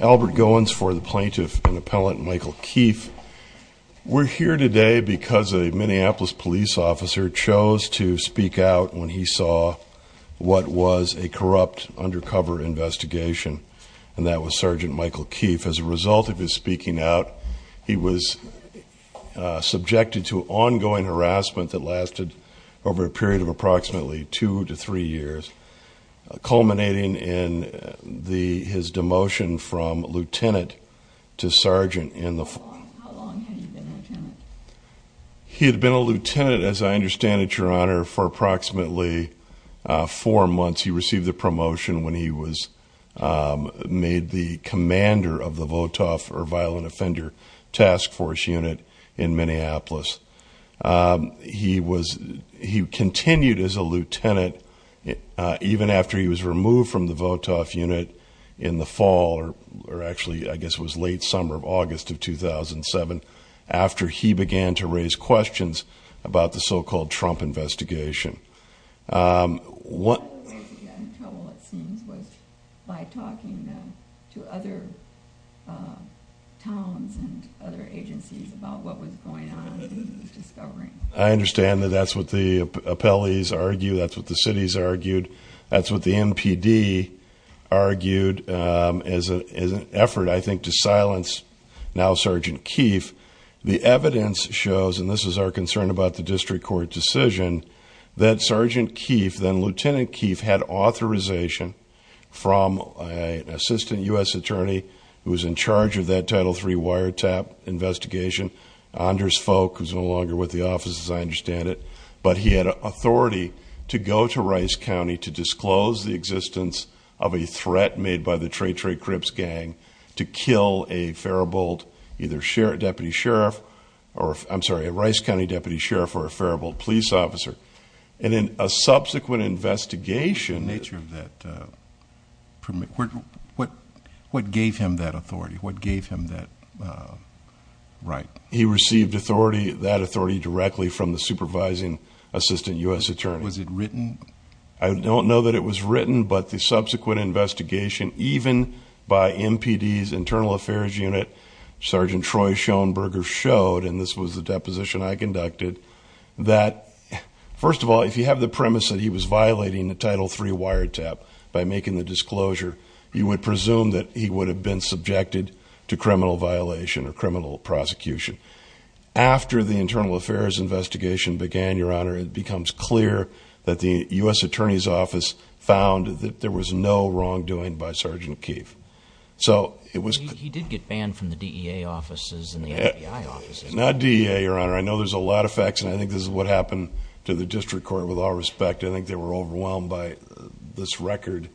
Albert Goins for the plaintiff and appellant Michael Keefe. We're here today because a Minneapolis police officer chose to speak out when he saw what was a corrupt undercover investigation, and that was Sergeant Michael Keefe. As a result of his speaking out, he was subjected to ongoing harassment that lasted over a period of approximately two to three years, culminating in his demotion from lieutenant to sergeant. How long had he been a lieutenant? He had been a lieutenant, as I understand it, Your Honor, for approximately four months. He received the promotion when he was made the commander of the VOTOF, or Violent Offender Task Force Unit, in Minneapolis. He continued as a lieutenant even after he was removed from the VOTOF unit in the fall, or actually I guess it was late summer of August of 2007, after he began to raise questions about the so-called Trump investigation. One of the ways he got in trouble, it seems, was by talking to other towns and other agencies about what was going on and what he was discovering. I understand that that's what the appellees argued, that's what the cities argued, that's what the NPD argued as an effort, I think, to silence now Sergeant Keefe. The evidence shows, and this is our concern about the district court decision, that Sergeant Keefe, then Lieutenant Keefe, had authorization from an assistant U.S. attorney who was in charge of that Title III wiretap investigation, Anders Folk, who's no longer with the office, as I understand it, but he had authority to go to Rice County to disclose the existence of a threat made by the Trae Trae Crips gang to kill a Rice County deputy sheriff or a Faribault police officer. What gave him that authority? What gave him that right? He received that authority directly from the supervising assistant U.S. attorney. Was it written? I don't know that it was written, but the subsequent investigation, even by NPD's Internal Affairs Unit, Sergeant Troy Schoenberger showed, and this was the deposition I conducted, that, first of all, if you have the premise that he was violating the Title III wiretap by making the disclosure, you would presume that he would have been subjected to criminal violation or criminal prosecution. After the Internal Affairs investigation began, Your Honor, it becomes clear that the U.S. attorney's office found that there was no wrongdoing by Sergeant Keefe. He did get banned from the DEA offices and the FBI offices. Not DEA, Your Honor. I know there's a lot of facts, and I think this is what happened to the district court with all respect. I think they were overwhelmed by this record.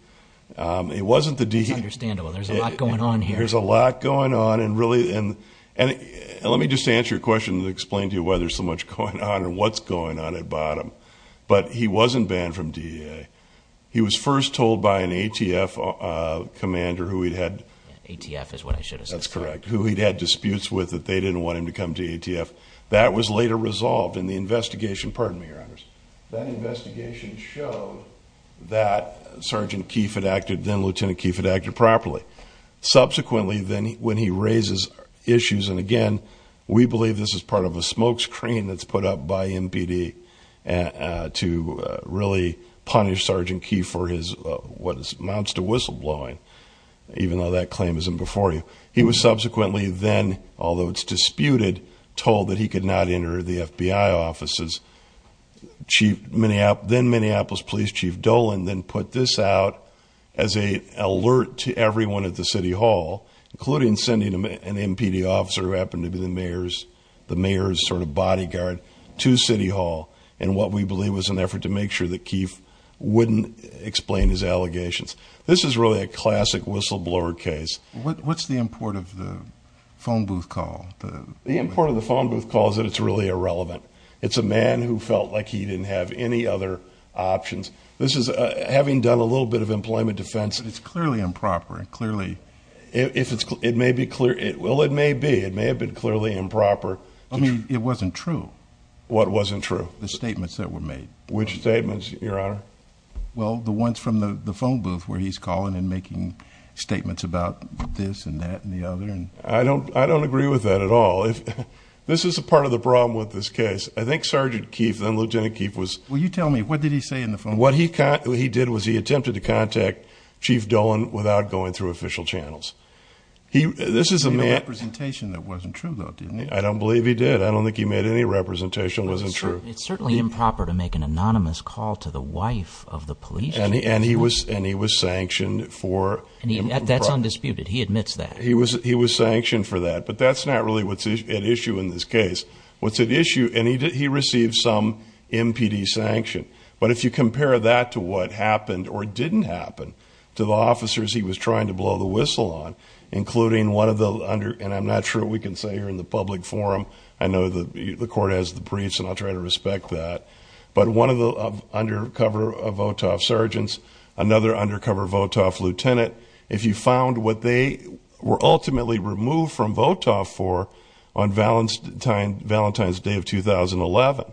It's understandable. There's a lot going on here. There's a lot going on, and really, and let me just answer your question and explain to you why there's so much going on and what's going on at bottom. But he wasn't banned from DEA. He was first told by an ATF commander who he'd had. ATF is what I should have said. That's correct, who he'd had disputes with that they didn't want him to come to ATF. That was later resolved in the investigation. Pardon me, Your Honors. That investigation showed that Sergeant Keefe had acted, then Lieutenant Keefe had acted properly. Subsequently, then when he raises issues, and again, we believe this is part of a smokescreen that's put up by MPD to really punish Sergeant Keefe for what amounts to whistleblowing, even though that claim isn't before you. He was subsequently then, although it's disputed, told that he could not enter the FBI offices. Then Minneapolis Police Chief Dolan then put this out as an alert to everyone at the city hall, including sending an MPD officer who happened to be the mayor's sort of bodyguard to city hall in what we believe was an effort to make sure that Keefe wouldn't explain his allegations. This is really a classic whistleblower case. What's the import of the phone booth call? The import of the phone booth call is that it's really irrelevant. It's a man who felt like he didn't have any other options. This is having done a little bit of employment defense. It's clearly improper, clearly. It may be, well, it may be. It may have been clearly improper. I mean, it wasn't true. What wasn't true? The statements that were made. Which statements, Your Honor? Well, the ones from the phone booth where he's calling and making statements about this and that and the other. I don't agree with that at all. This is a part of the problem with this case. I think Sergeant Keefe, then Lieutenant Keefe was... Will you tell me, what did he say in the phone booth? What he did was he attempted to contact Chief Dolan without going through official channels. He made a representation that wasn't true, though, didn't he? I don't believe he did. I don't think he made any representation that wasn't true. It's certainly improper to make an anonymous call to the wife of the police chief. And he was sanctioned for... That's undisputed. He admits that. He was sanctioned for that. But that's not really what's at issue in this case. What's at issue, and he received some MPD sanction. But if you compare that to what happened or didn't happen to the officers he was trying to blow the whistle on, including one of the under... And I'm not sure what we can say here in the public forum. I know the court has the briefs, and I'll try to respect that. But one of the undercover VOTOF sergeants, another undercover VOTOF lieutenant, if you found what they were ultimately removed from VOTOF for on Valentine's Day of 2011,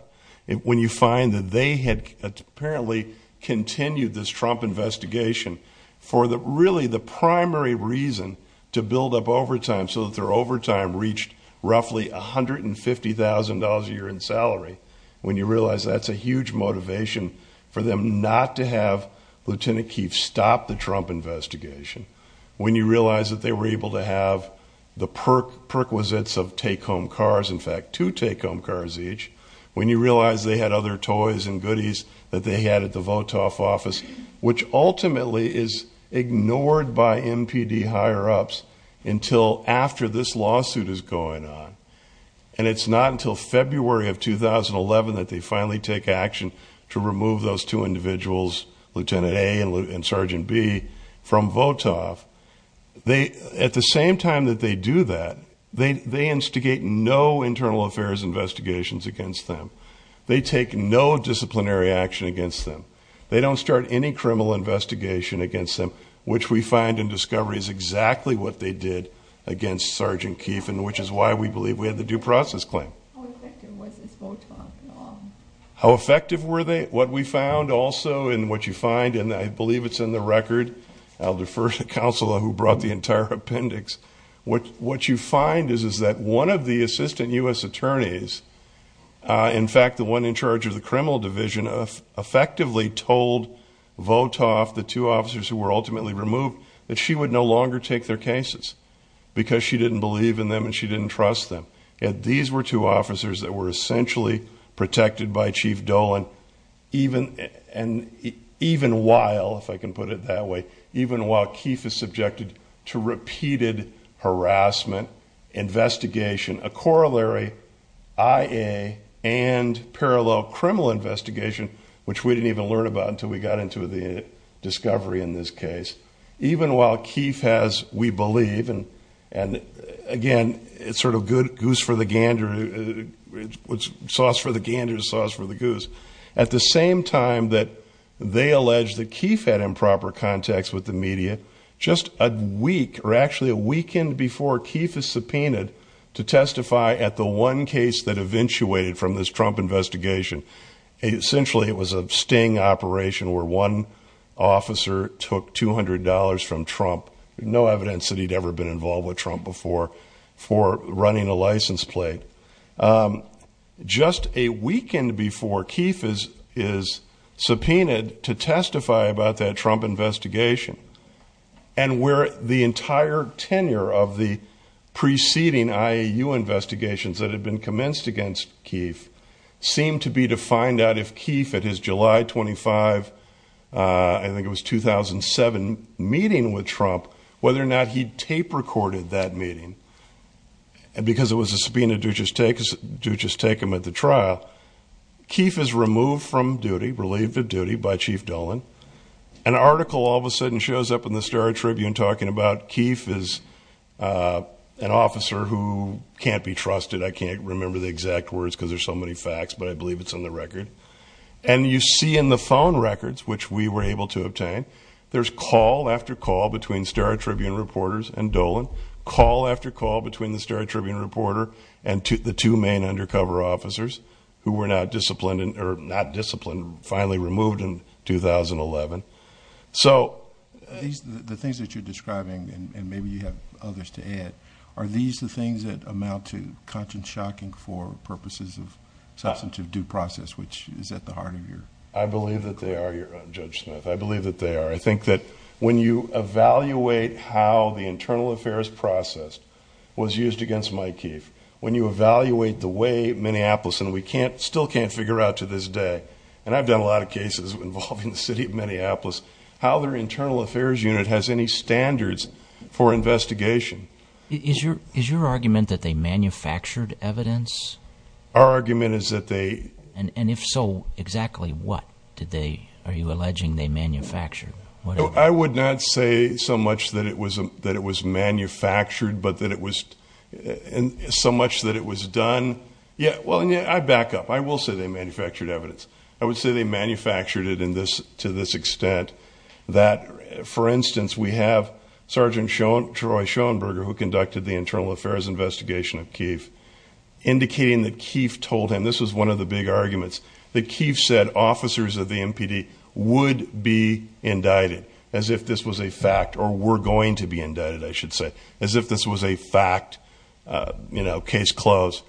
when you find that they had apparently continued this Trump investigation for really the primary reason to build up overtime so that their overtime reached roughly $150,000 a year in salary, when you realize that's a huge motivation for them not to have Lieutenant Keefe stop the Trump investigation, when you realize that they were able to have the prerequisites of take-home cars, in fact, two take-home cars each, when you realize they had other toys and goodies that they had at the VOTOF office, which ultimately is ignored by MPD higher-ups until after this lawsuit is going on. And it's not until February of 2011 that they finally take action to remove those two individuals, Lieutenant A and Sergeant B, from VOTOF. At the same time that they do that, they instigate no internal affairs investigations against them. They take no disciplinary action against them. They don't start any criminal investigation against them, which we find in discovery is exactly what they did against Sergeant Keefe, and which is why we believe we had the due process claim. How effective was this VOTOF? How effective were they? What we found also, and what you find, and I believe it's in the record, I'll defer to Counselor who brought the entire appendix, what you find is that one of the assistant U.S. attorneys, in fact, the one in charge of the criminal division, effectively told VOTOF, the two officers who were ultimately removed, that she would no longer take their cases because she didn't believe in them and she didn't trust them. These were two officers that were essentially protected by Chief Dolan, even while, if I can put it that way, even while Keefe is subjected to repeated harassment, investigation, a corollary IA and parallel criminal investigation, which we didn't even learn about until we got into the discovery in this case, even while Keefe has, we believe, and again, it's sort of goose for the gander, sauce for the gander, sauce for the goose. At the same time that they allege that Keefe had improper contacts with the media, just a week, or actually a weekend before Keefe is subpoenaed to testify at the one case that eventuated from this Trump investigation, essentially it was a sting operation where one officer took $200 from Trump, no evidence that he'd ever been involved with Trump before, for running a license plate. Just a weekend before Keefe is subpoenaed to testify about that Trump investigation, and where the entire tenure of the preceding IAU investigations that had been commenced against Keefe seemed to be to find out if Keefe, at his July 25, I think it was 2007, meeting with Trump, whether or not he'd tape recorded that meeting, because it was a subpoena to just take him at the trial. Keefe is removed from duty, relieved of duty by Chief Dolan. An article all of a sudden shows up in the Star Tribune talking about Keefe is an officer who can't be trusted, I can't remember the exact words because there's so many facts, but I believe it's on the record. And you see in the phone records, which we were able to obtain, there's call after call between Star Tribune reporters and Dolan, call after call between the Star Tribune reporter and the two main undercover officers who were not disciplined, finally removed in 2011. The things that you're describing, and maybe you have others to add, are these the things that amount to content shocking for purposes of substantive due process, which is at the heart of your... I believe that they are, Judge Smith, I believe that they are. I think that when you evaluate how the internal affairs process was used against Mike Keefe, when you evaluate the way Minneapolis, and we still can't figure out to this day, and I've done a lot of cases involving the city of Minneapolis, how their internal affairs unit has any standards for investigation. Is your argument that they manufactured evidence? Our argument is that they... And if so, exactly what are you alleging they manufactured? I would not say so much that it was manufactured, but that it was so much that it was done. I back up. I will say they manufactured evidence. I would say they manufactured it to this extent that, for instance, we have Sergeant Troy Schoenberger, who conducted the internal affairs investigation of Keefe, indicating that Keefe told him, this was one of the big arguments, that Keefe said officers of the MPD would be indicted as if this was a fact, or were going to be indicted, I should say, as if this was a fact, you know, case closed.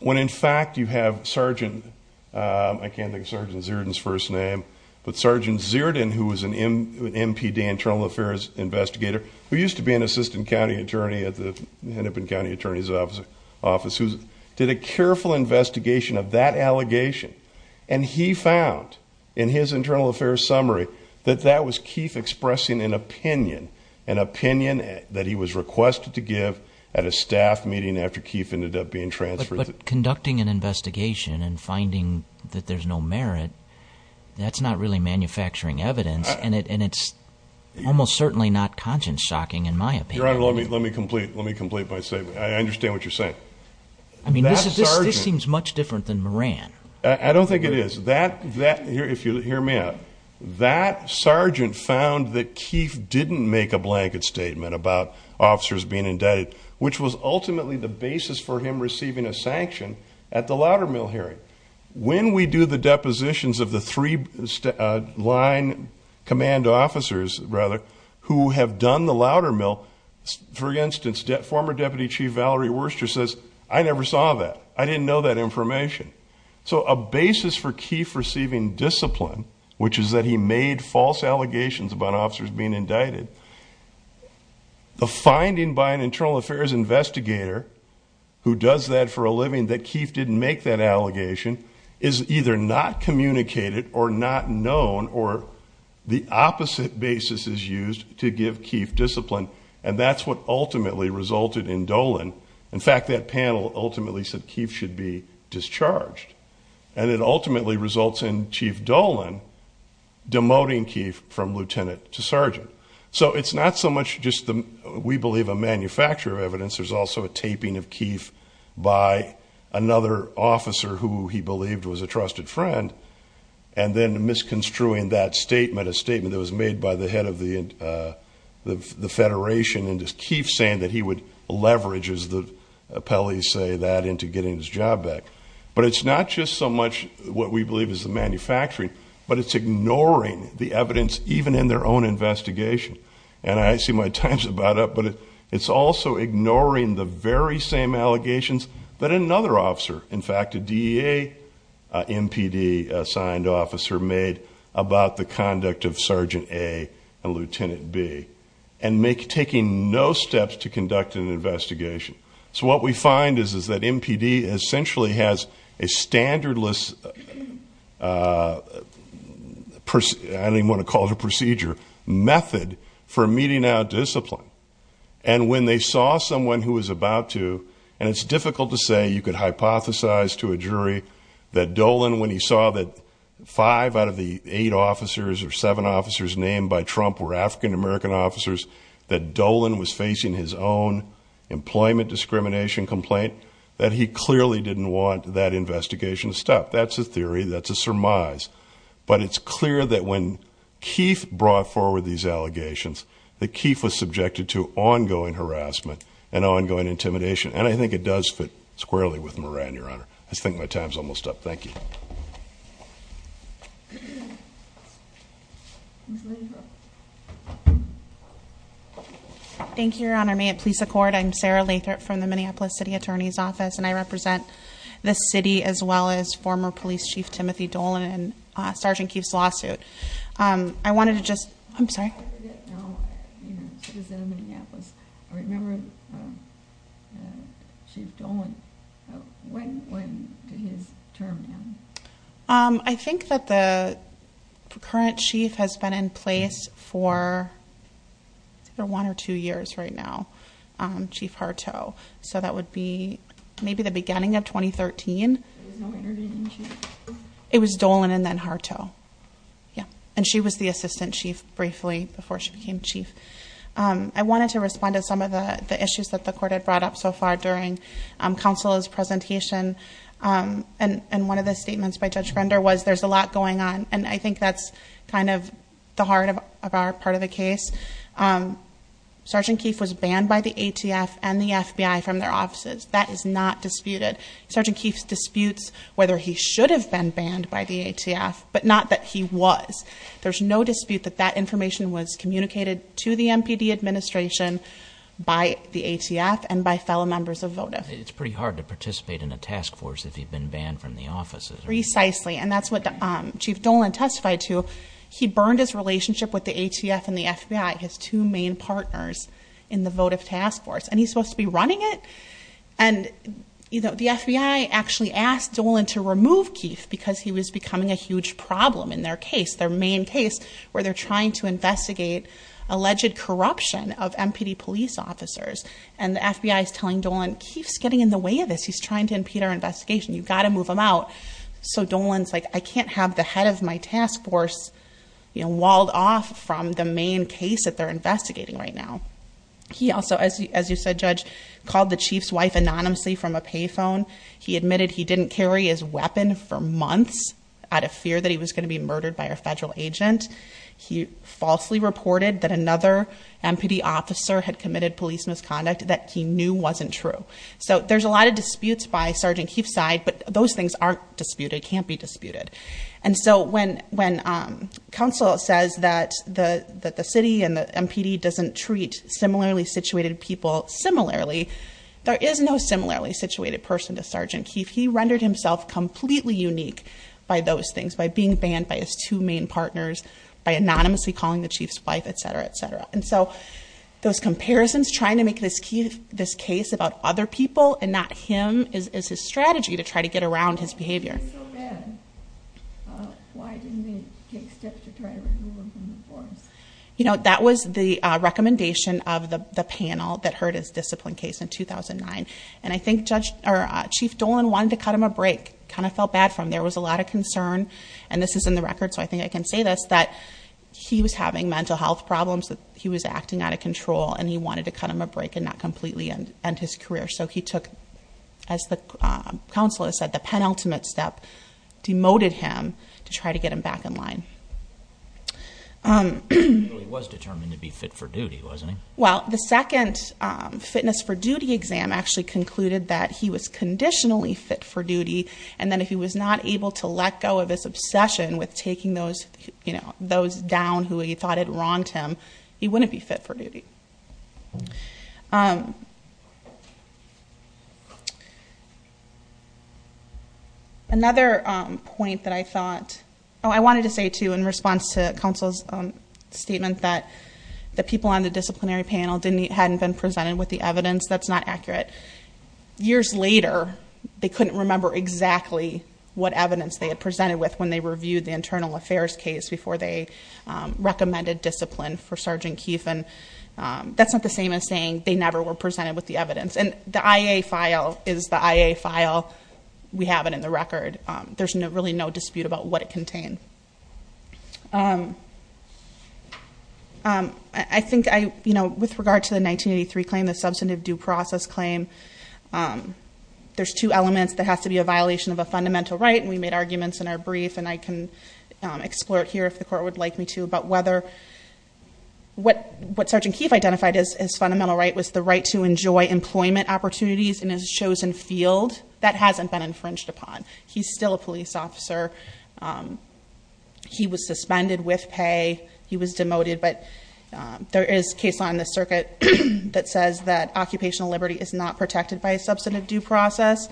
When, in fact, you have Sergeant, I can't think of Sergeant Zierden's first name, but Sergeant Zierden, who was an MPD internal affairs investigator, who used to be an assistant county attorney at the Hennepin County Attorney's Office, who did a careful investigation of that allegation, and he found in his internal affairs summary that that was Keefe expressing an opinion, an opinion that he was requested to give at a staff meeting after Keefe ended up being transferred. But conducting an investigation and finding that there's no merit, that's not really manufacturing evidence, and it's almost certainly not conscience shocking in my opinion. Your Honor, let me complete my statement. I understand what you're saying. I mean, this seems much different than Moran. I don't think it is. That, if you'll hear me out, that sergeant found that Keefe didn't make a blanket statement about officers being indicted, which was ultimately the basis for him receiving a sanction at the Loudermill hearing. When we do the depositions of the three line command officers, rather, who have done the Loudermill, for instance, former Deputy Chief Valerie Worcester says, I never saw that. I didn't know that information. So a basis for Keefe receiving discipline, which is that he made false allegations about officers being indicted, the finding by an internal affairs investigator who does that for a living, that Keefe didn't make that allegation, is either not communicated or not known, or the opposite basis is used to give Keefe discipline, and that's what ultimately resulted in Dolan. In fact, that panel ultimately said Keefe should be discharged, and it ultimately results in Chief Dolan demoting Keefe from lieutenant to sergeant. So it's not so much just, we believe, a manufacturer of evidence. There's also a taping of Keefe by another officer who he believed was a trusted friend, and then misconstruing that statement, a statement that was made by the head of the federation, and just Keefe saying that he would leverage, as the appellees say, that into getting his job back. But it's not just so much what we believe is the manufacturing, but it's ignoring the evidence even in their own investigation. And I see my time's about up, but it's also ignoring the very same allegations that another officer, in fact, a DEA MPD-assigned officer made about the conduct of Sergeant A and Lieutenant B, and taking no steps to conduct an investigation. So what we find is that MPD essentially has a standardless, I don't even want to call it a procedure, method for meting out discipline. And when they saw someone who was about to, and it's difficult to say, you could hypothesize to a jury that Dolan, when he saw that five out of the eight officers or seven officers named by Trump were African-American officers, that Dolan was facing his own employment discrimination complaint, that he clearly didn't want that investigation to stop. That's a theory, that's a surmise. But it's clear that when Keefe brought forward these allegations, that Keefe was subjected to ongoing harassment and ongoing intimidation. And I think it does fit squarely with Moran, Your Honor. I just think my time's almost up. Thank you. Ms. Lathrop. Thank you, Your Honor. May it please the Court, I'm Sarah Lathrop from the Minneapolis City Attorney's Office, and I represent the city as well as former Police Chief Timothy Dolan and Sergeant Keefe's lawsuit. I wanted to just, I'm sorry. No, he was in Minneapolis. I remember Chief Dolan. When did his term end? I think that the current chief has been in place for one or two years right now, Chief Harteau. So that would be maybe the beginning of 2013. There was no intervening chief? It was Dolan and then Harteau. And she was the assistant chief briefly before she became chief. I wanted to respond to some of the issues that the Court had brought up so far during counsel's presentation. And one of the statements by Judge Render was there's a lot going on, and I think that's kind of the heart of our part of the case. Sergeant Keefe was banned by the ATF and the FBI from their offices. That is not disputed. Sergeant Keefe disputes whether he should have been banned by the ATF, but not that he was. There's no dispute that that information was communicated to the MPD administration by the ATF and by fellow members of VOTIF. It's pretty hard to participate in a task force if you've been banned from the offices. Precisely, and that's what Chief Dolan testified to. He burned his relationship with the ATF and the FBI, his two main partners in the VOTIF task force. And he's supposed to be running it? And the FBI actually asked Dolan to remove Keefe because he was becoming a huge problem in their case, their main case, where they're trying to investigate alleged corruption of MPD police officers. And the FBI is telling Dolan, Keefe's getting in the way of this. He's trying to impede our investigation. You've got to move him out. So Dolan's like, I can't have the head of my task force walled off from the main case that they're investigating right now. He also, as you said, Judge, called the chief's wife anonymously from a pay phone. He admitted he didn't carry his weapon for months out of fear that he was going to be murdered by a federal agent. He falsely reported that another MPD officer had committed police misconduct that he knew wasn't true. So there's a lot of disputes by Sergeant Keefe's side, but those things aren't disputed, can't be disputed. And so when counsel says that the city and the MPD doesn't treat similarly situated people similarly, there is no similarly situated person to Sergeant Keefe. He rendered himself completely unique by those things, by being banned by his two main partners, by anonymously calling the chief's wife, et cetera, et cetera. And so those comparisons, trying to make this case about other people and not him, is his strategy to try to get around his behavior. He was so bad. Why didn't he take steps to try to remove him from the force? You know, that was the recommendation of the panel that heard his discipline case in 2009. And I think Chief Dolan wanted to cut him a break, kind of felt bad for him. There was a lot of concern, and this is in the record, so I think I can say this, that he was having mental health problems, that he was acting out of control, and he wanted to cut him a break and not completely end his career. So he took, as the counselor said, the penultimate step, demoted him to try to get him back in line. He really was determined to be fit for duty, wasn't he? Well, the second fitness for duty exam actually concluded that he was conditionally fit for duty, and then if he was not able to let go of his obsession with taking those down who he thought had wronged him, he wouldn't be fit for duty. Another point that I thought, oh, I wanted to say, too, in response to counsel's statement, that the people on the disciplinary panel hadn't been presented with the evidence, that's not accurate. Years later, they couldn't remember exactly what evidence they had presented with when they reviewed the internal affairs case before they recommended discipline for Sergeant Keefe, and that's not the same as saying they never were presented with the evidence. And the IA file is the IA file. We have it in the record. There's really no dispute about what it contained. I think I, you know, with regard to the 1983 claim, the substantive due process claim, there's two elements. There has to be a violation of a fundamental right, and we made arguments in our brief, and I can explore it here if the court would like me to, about whether what Sergeant Keefe identified as his fundamental right was the right to enjoy employment opportunities in his chosen field. That hasn't been infringed upon. He's still a police officer. He was suspended with pay. He was demoted, but there is case law in the circuit that says that occupational liberty is not protected by a substantive due process.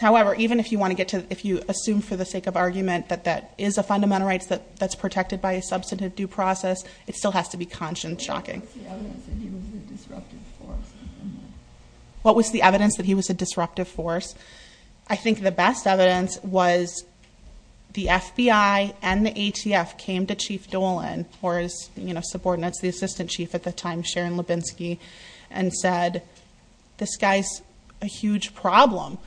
However, even if you want to get to, if you assume for the sake of argument that that is a fundamental right that's protected by a substantive due process, it still has to be conscious and shocking. What was the evidence that he was a disruptive force? What was the evidence that he was a disruptive force? I think the best evidence was the FBI and the ATF came to Chief Dolan, or his subordinates, the assistant chief at the time, Sharon Lubinsky, and said, this guy's a huge problem.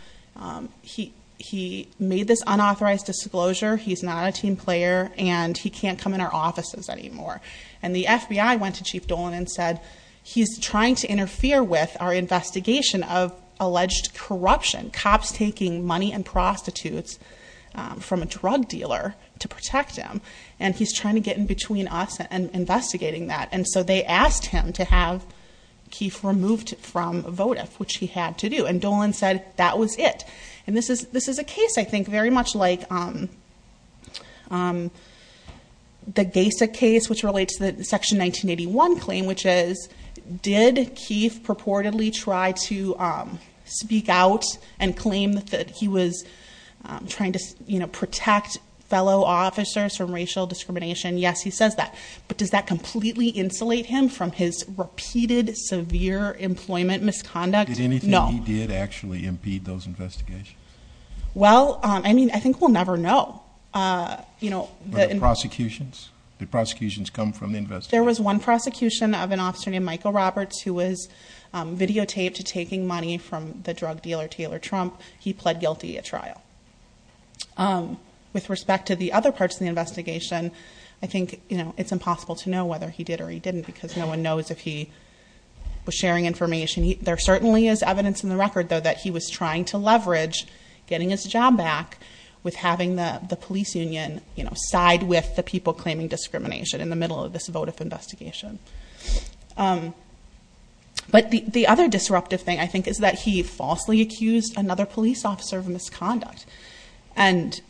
He made this unauthorized disclosure, he's not a team player, and he can't come in our offices anymore. And the FBI went to Chief Dolan and said, he's trying to interfere with our investigation of alleged corruption, cops taking money and prostitutes from a drug dealer to protect him, and he's trying to get in between us and investigating that. And so they asked him to have Keefe removed from VOTIF, which he had to do. And Dolan said that was it. And this is a case, I think, very much like the GASA case, which relates to the Section 1981 claim, which is did Keefe purportedly try to speak out and claim that he was trying to, you know, protect fellow officers from racial discrimination? Yes, he says that. But does that completely insulate him from his repeated severe employment misconduct? No. Did anything he did actually impede those investigations? Well, I mean, I think we'll never know. Were there prosecutions? Did prosecutions come from the investigation? There was one prosecution of an officer named Michael Roberts who was videotaped taking money from the drug dealer, Taylor Trump. He pled guilty at trial. With respect to the other parts of the investigation, I think it's impossible to know whether he did or he didn't because no one knows if he was sharing information. There certainly is evidence in the record, though, that he was trying to leverage getting his job back with having the police union side with the people claiming discrimination in the middle of this votive investigation. But the other disruptive thing, I think, is that he falsely accused another police officer of misconduct. And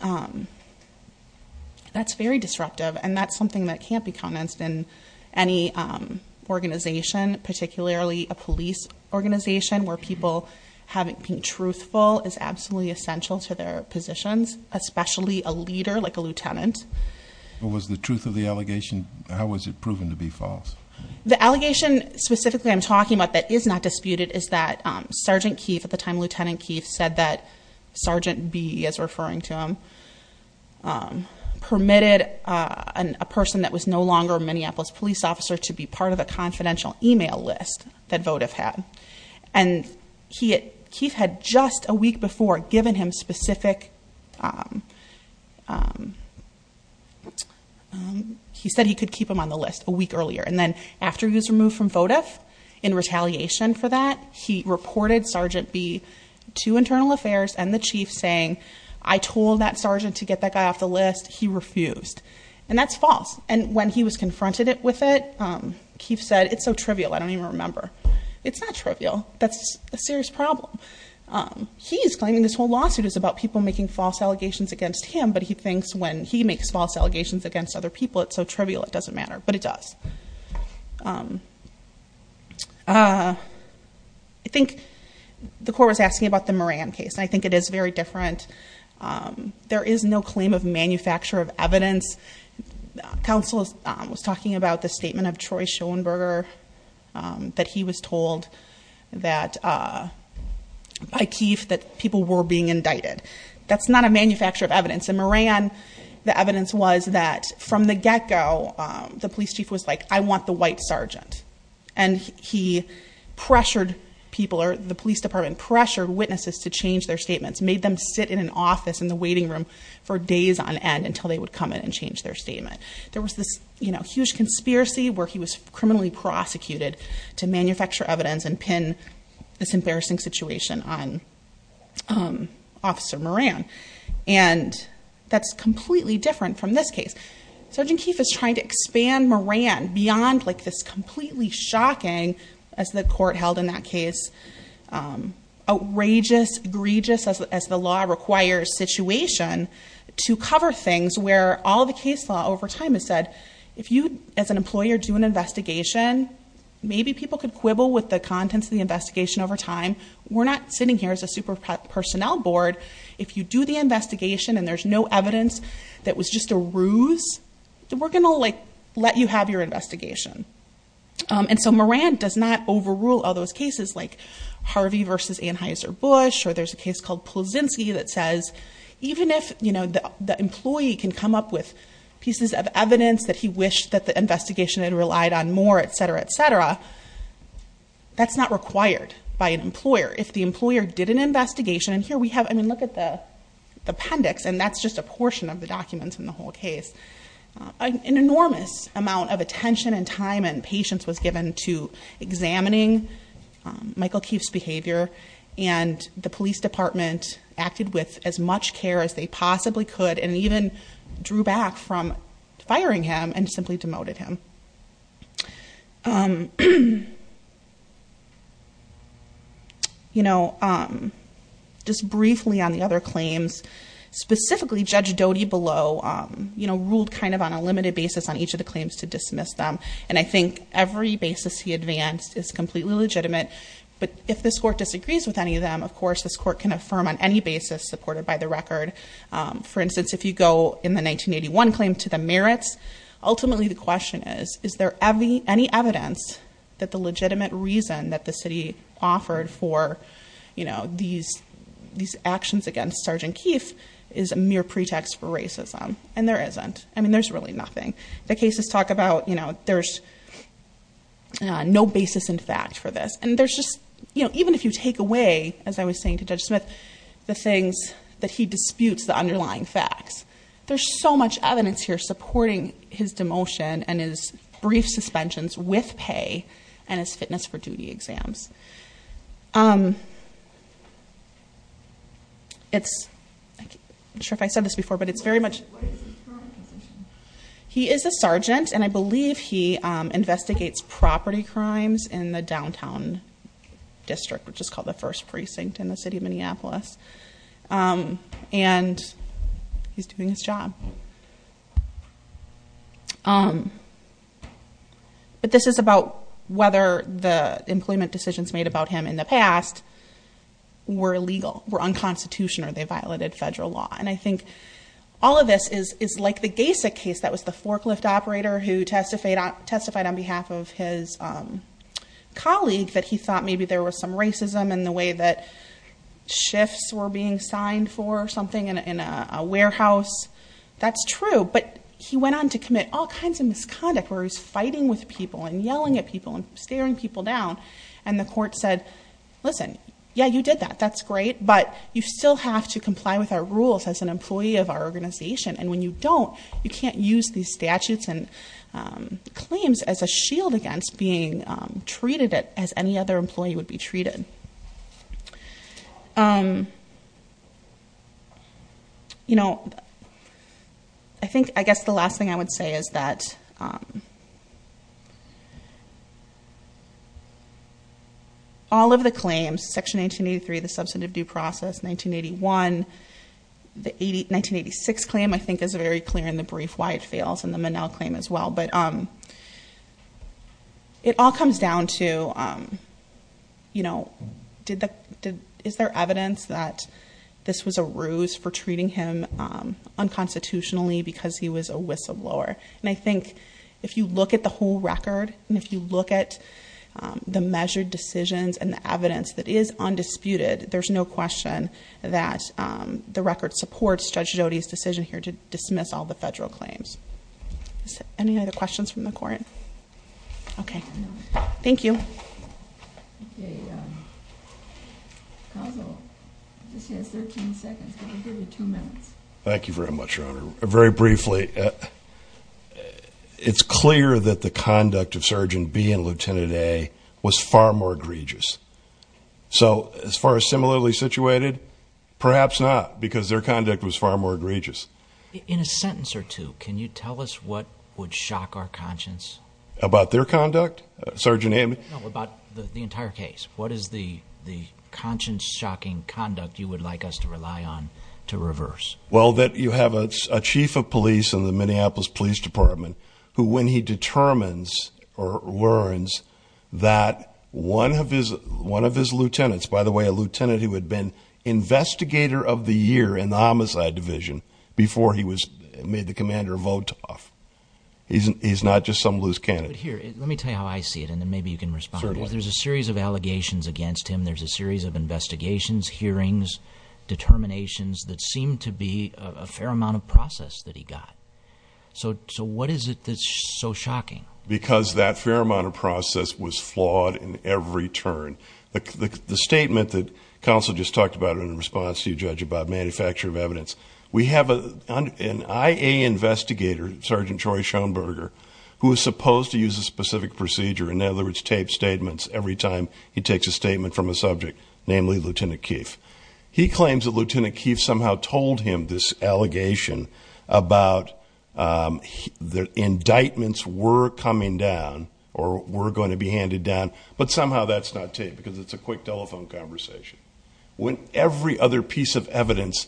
that's very disruptive, and that's something that can't be commenced in any organization, particularly a police organization, where people being truthful is absolutely essential to their positions, especially a leader like a lieutenant. What was the truth of the allegation? How was it proven to be false? The allegation specifically I'm talking about that is not disputed is that Sergeant Keefe, at the time Lieutenant Keefe, said that Sergeant B, as referring to him, permitted a person that was no longer a Minneapolis police officer to be part of a confidential email list that votive had. And Keefe had just a week before given him specific... He said he could keep him on the list a week earlier. And then after he was removed from votive, in retaliation for that, he reported Sergeant B to Internal Affairs and the chief saying, I told that sergeant to get that guy off the list. He refused. And that's false. And when he was confronted with it, Keefe said, it's so trivial I don't even remember. It's not trivial. That's a serious problem. He's claiming this whole lawsuit is about people making false allegations against him, but he thinks when he makes false allegations against other people, it's so trivial it doesn't matter. But it does. I think the court was asking about the Moran case. I think it is very different. There is no claim of manufacture of evidence. Counsel was talking about the statement of Troy Schoenberger, that he was told by Keefe that people were being indicted. That's not a manufacture of evidence. In Moran, the evidence was that from the get-go, the police chief was like, I want the white sergeant. And he pressured people or the police department, pressured witnesses to change their statements, made them sit in an office in the waiting room for days on end to change their statement. There was this huge conspiracy where he was criminally prosecuted to manufacture evidence and pin this embarrassing situation on Officer Moran. And that's completely different from this case. Sergeant Keefe is trying to expand Moran beyond this completely shocking, as the court held in that case, outrageous, egregious, as the law requires situation, to cover things where all the case law over time has said, if you as an employer do an investigation, maybe people could quibble with the contents of the investigation over time. We're not sitting here as a super personnel board. If you do the investigation and there's no evidence that was just a ruse, then we're going to let you have your investigation. And so Moran does not overrule all those cases like Harvey versus Anheuser-Busch, or there's a case called Pulczynski that says, even if the employee can come up with pieces of evidence that he wished that the investigation had relied on more, et cetera, et cetera, that's not required by an employer. If the employer did an investigation, and here we have, I mean, look at the appendix, and that's just a portion of the documents in the whole case. An enormous amount of attention and time and patience was given to examining Michael Keefe's behavior and the police department acted with as much care as they possibly could and even drew back from firing him and simply demoted him. You know, just briefly on the other claims, specifically Judge Doty Below ruled kind of on a limited basis on each of the claims to dismiss them, and I think every basis he advanced is completely legitimate. But if this court disagrees with any of them, of course, this court can affirm on any basis supported by the record. For instance, if you go in the 1981 claim to the merits, ultimately the question is, is there any evidence that the legitimate reason that the city offered for these actions against Sergeant Keefe is a mere pretext for racism, and there isn't. I mean, there's really nothing. The cases talk about, you know, there's no basis in fact for this, and there's just, you know, even if you take away, as I was saying to Judge Smith, the things that he disputes, the underlying facts, there's so much evidence here supporting his demotion and his brief suspensions with pay and his fitness for duty exams. I'm not sure if I said this before, but it's very much... He is a sergeant, and I believe he investigates property crimes in the downtown district, which is called the First Precinct in the city of Minneapolis, and he's doing his job. But this is about whether the employment decisions made about him in the past were illegal, were unconstitutional, or they violated federal law. And I think all of this is like the Gasek case, that was the forklift operator who testified on behalf of his colleague that he thought maybe there was some racism in the way that shifts were being signed for or something in a warehouse. That's true, but he went on to commit all kinds of misconduct where he was fighting with people and yelling at people and staring people down, and the court said, listen, yeah, you did that, that's great, but you still have to comply with our rules as an employee of our organization, and when you don't, you can't use these statutes and claims as a shield against being treated as any other employee would be treated. I guess the last thing I would say is that all of the claims, Section 1983, the substantive due process, 1981, the 1986 claim, I think is very clear in the brief why it fails, and the Minnell claim as well. But it all comes down to, is there evidence that this was a ruse for treating him unconstitutionally because he was a whistleblower? And I think if you look at the whole record, and if you look at the measured decisions and the evidence that is undisputed, there's no question that the record supports Judge Jody's decision here to dismiss all the federal claims. Any other questions from the court? Okay. Thank you. Thank you very much, Your Honor. Very briefly, it's clear that the conduct of Sergeant B and Lieutenant A was far more egregious. So as far as similarly situated, perhaps not, because their conduct was far more egregious. In a sentence or two, can you tell us what would shock our conscience? About their conduct? Sergeant Amey? No, about the entire case. What is the conscience-shocking conduct you would like us to rely on to reverse? Well, that you have a chief of police in the Minneapolis Police Department who, when he determines or learns that one of his lieutenants, by the way, a lieutenant who had been investigator of the year in the Homicide Division before he made the commander vote off. He's not just some loose candidate. But here, let me tell you how I see it, and then maybe you can respond. Certainly. There's a series of allegations against him. There's a series of investigations, hearings, determinations that seem to be a fair amount of process that he got. So what is it that's so shocking? Because that fair amount of process was flawed in every turn. The statement that counsel just talked about in response to you, Judge, about manufacture of evidence. We have an IA investigator, Sergeant Troy Schoenberger, who is supposed to use a specific procedure, in other words, tape statements every time he takes a statement from a subject, namely Lieutenant Keefe. He claims that Lieutenant Keefe somehow told him this allegation about the indictments were coming down or were going to be handed down, but somehow that's not taped because it's a quick telephone conversation. Every other piece of evidence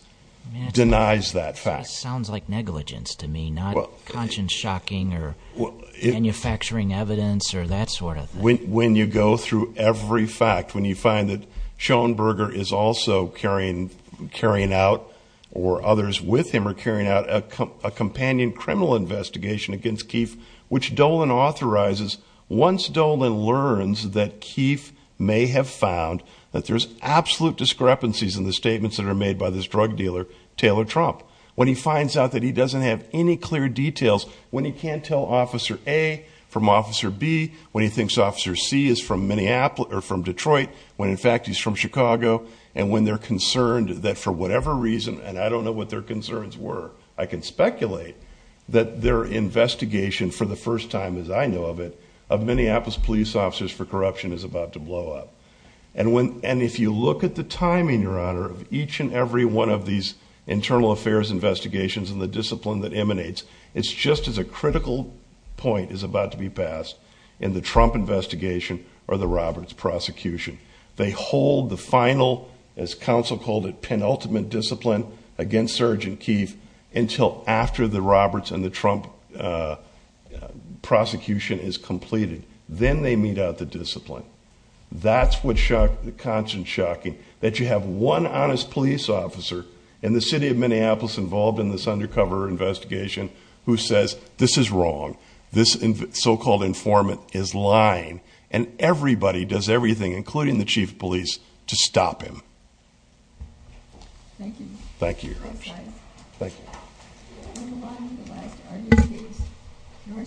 denies that fact. That sounds like negligence to me, not conscience shocking or manufacturing evidence or that sort of thing. When you go through every fact, when you find that Schoenberger is also carrying out or others with him are carrying out a companion criminal investigation against Keefe, which Dolan authorizes, once Dolan learns that Keefe may have found that there's absolute discrepancies in the statements that are made by this drug dealer, Taylor Trump. When he finds out that he doesn't have any clear details, when he can't tell Officer A from Officer B, when he thinks Officer C is from Detroit, when in fact he's from Chicago, and when they're concerned that for whatever reason, and I don't know what their concerns were, I can speculate that their investigation for the first time, as I know of it, of Minneapolis police officers for corruption is about to blow up. And if you look at the timing, Your Honor, of each and every one of these just as a critical point is about to be passed in the Trump investigation or the Roberts prosecution. They hold the final, as counsel called it, penultimate discipline against Sergeant Keefe until after the Roberts and the Trump prosecution is completed. Then they meet out the discipline. That's what's shocking, the conscience shocking, that you have one honest police officer in the city of Minneapolis involved in this undercover investigation who says this is wrong, this so-called informant is lying, and everybody does everything, including the chief of police, to stop him. Thank you. Thank you, Your Honor. Thank you.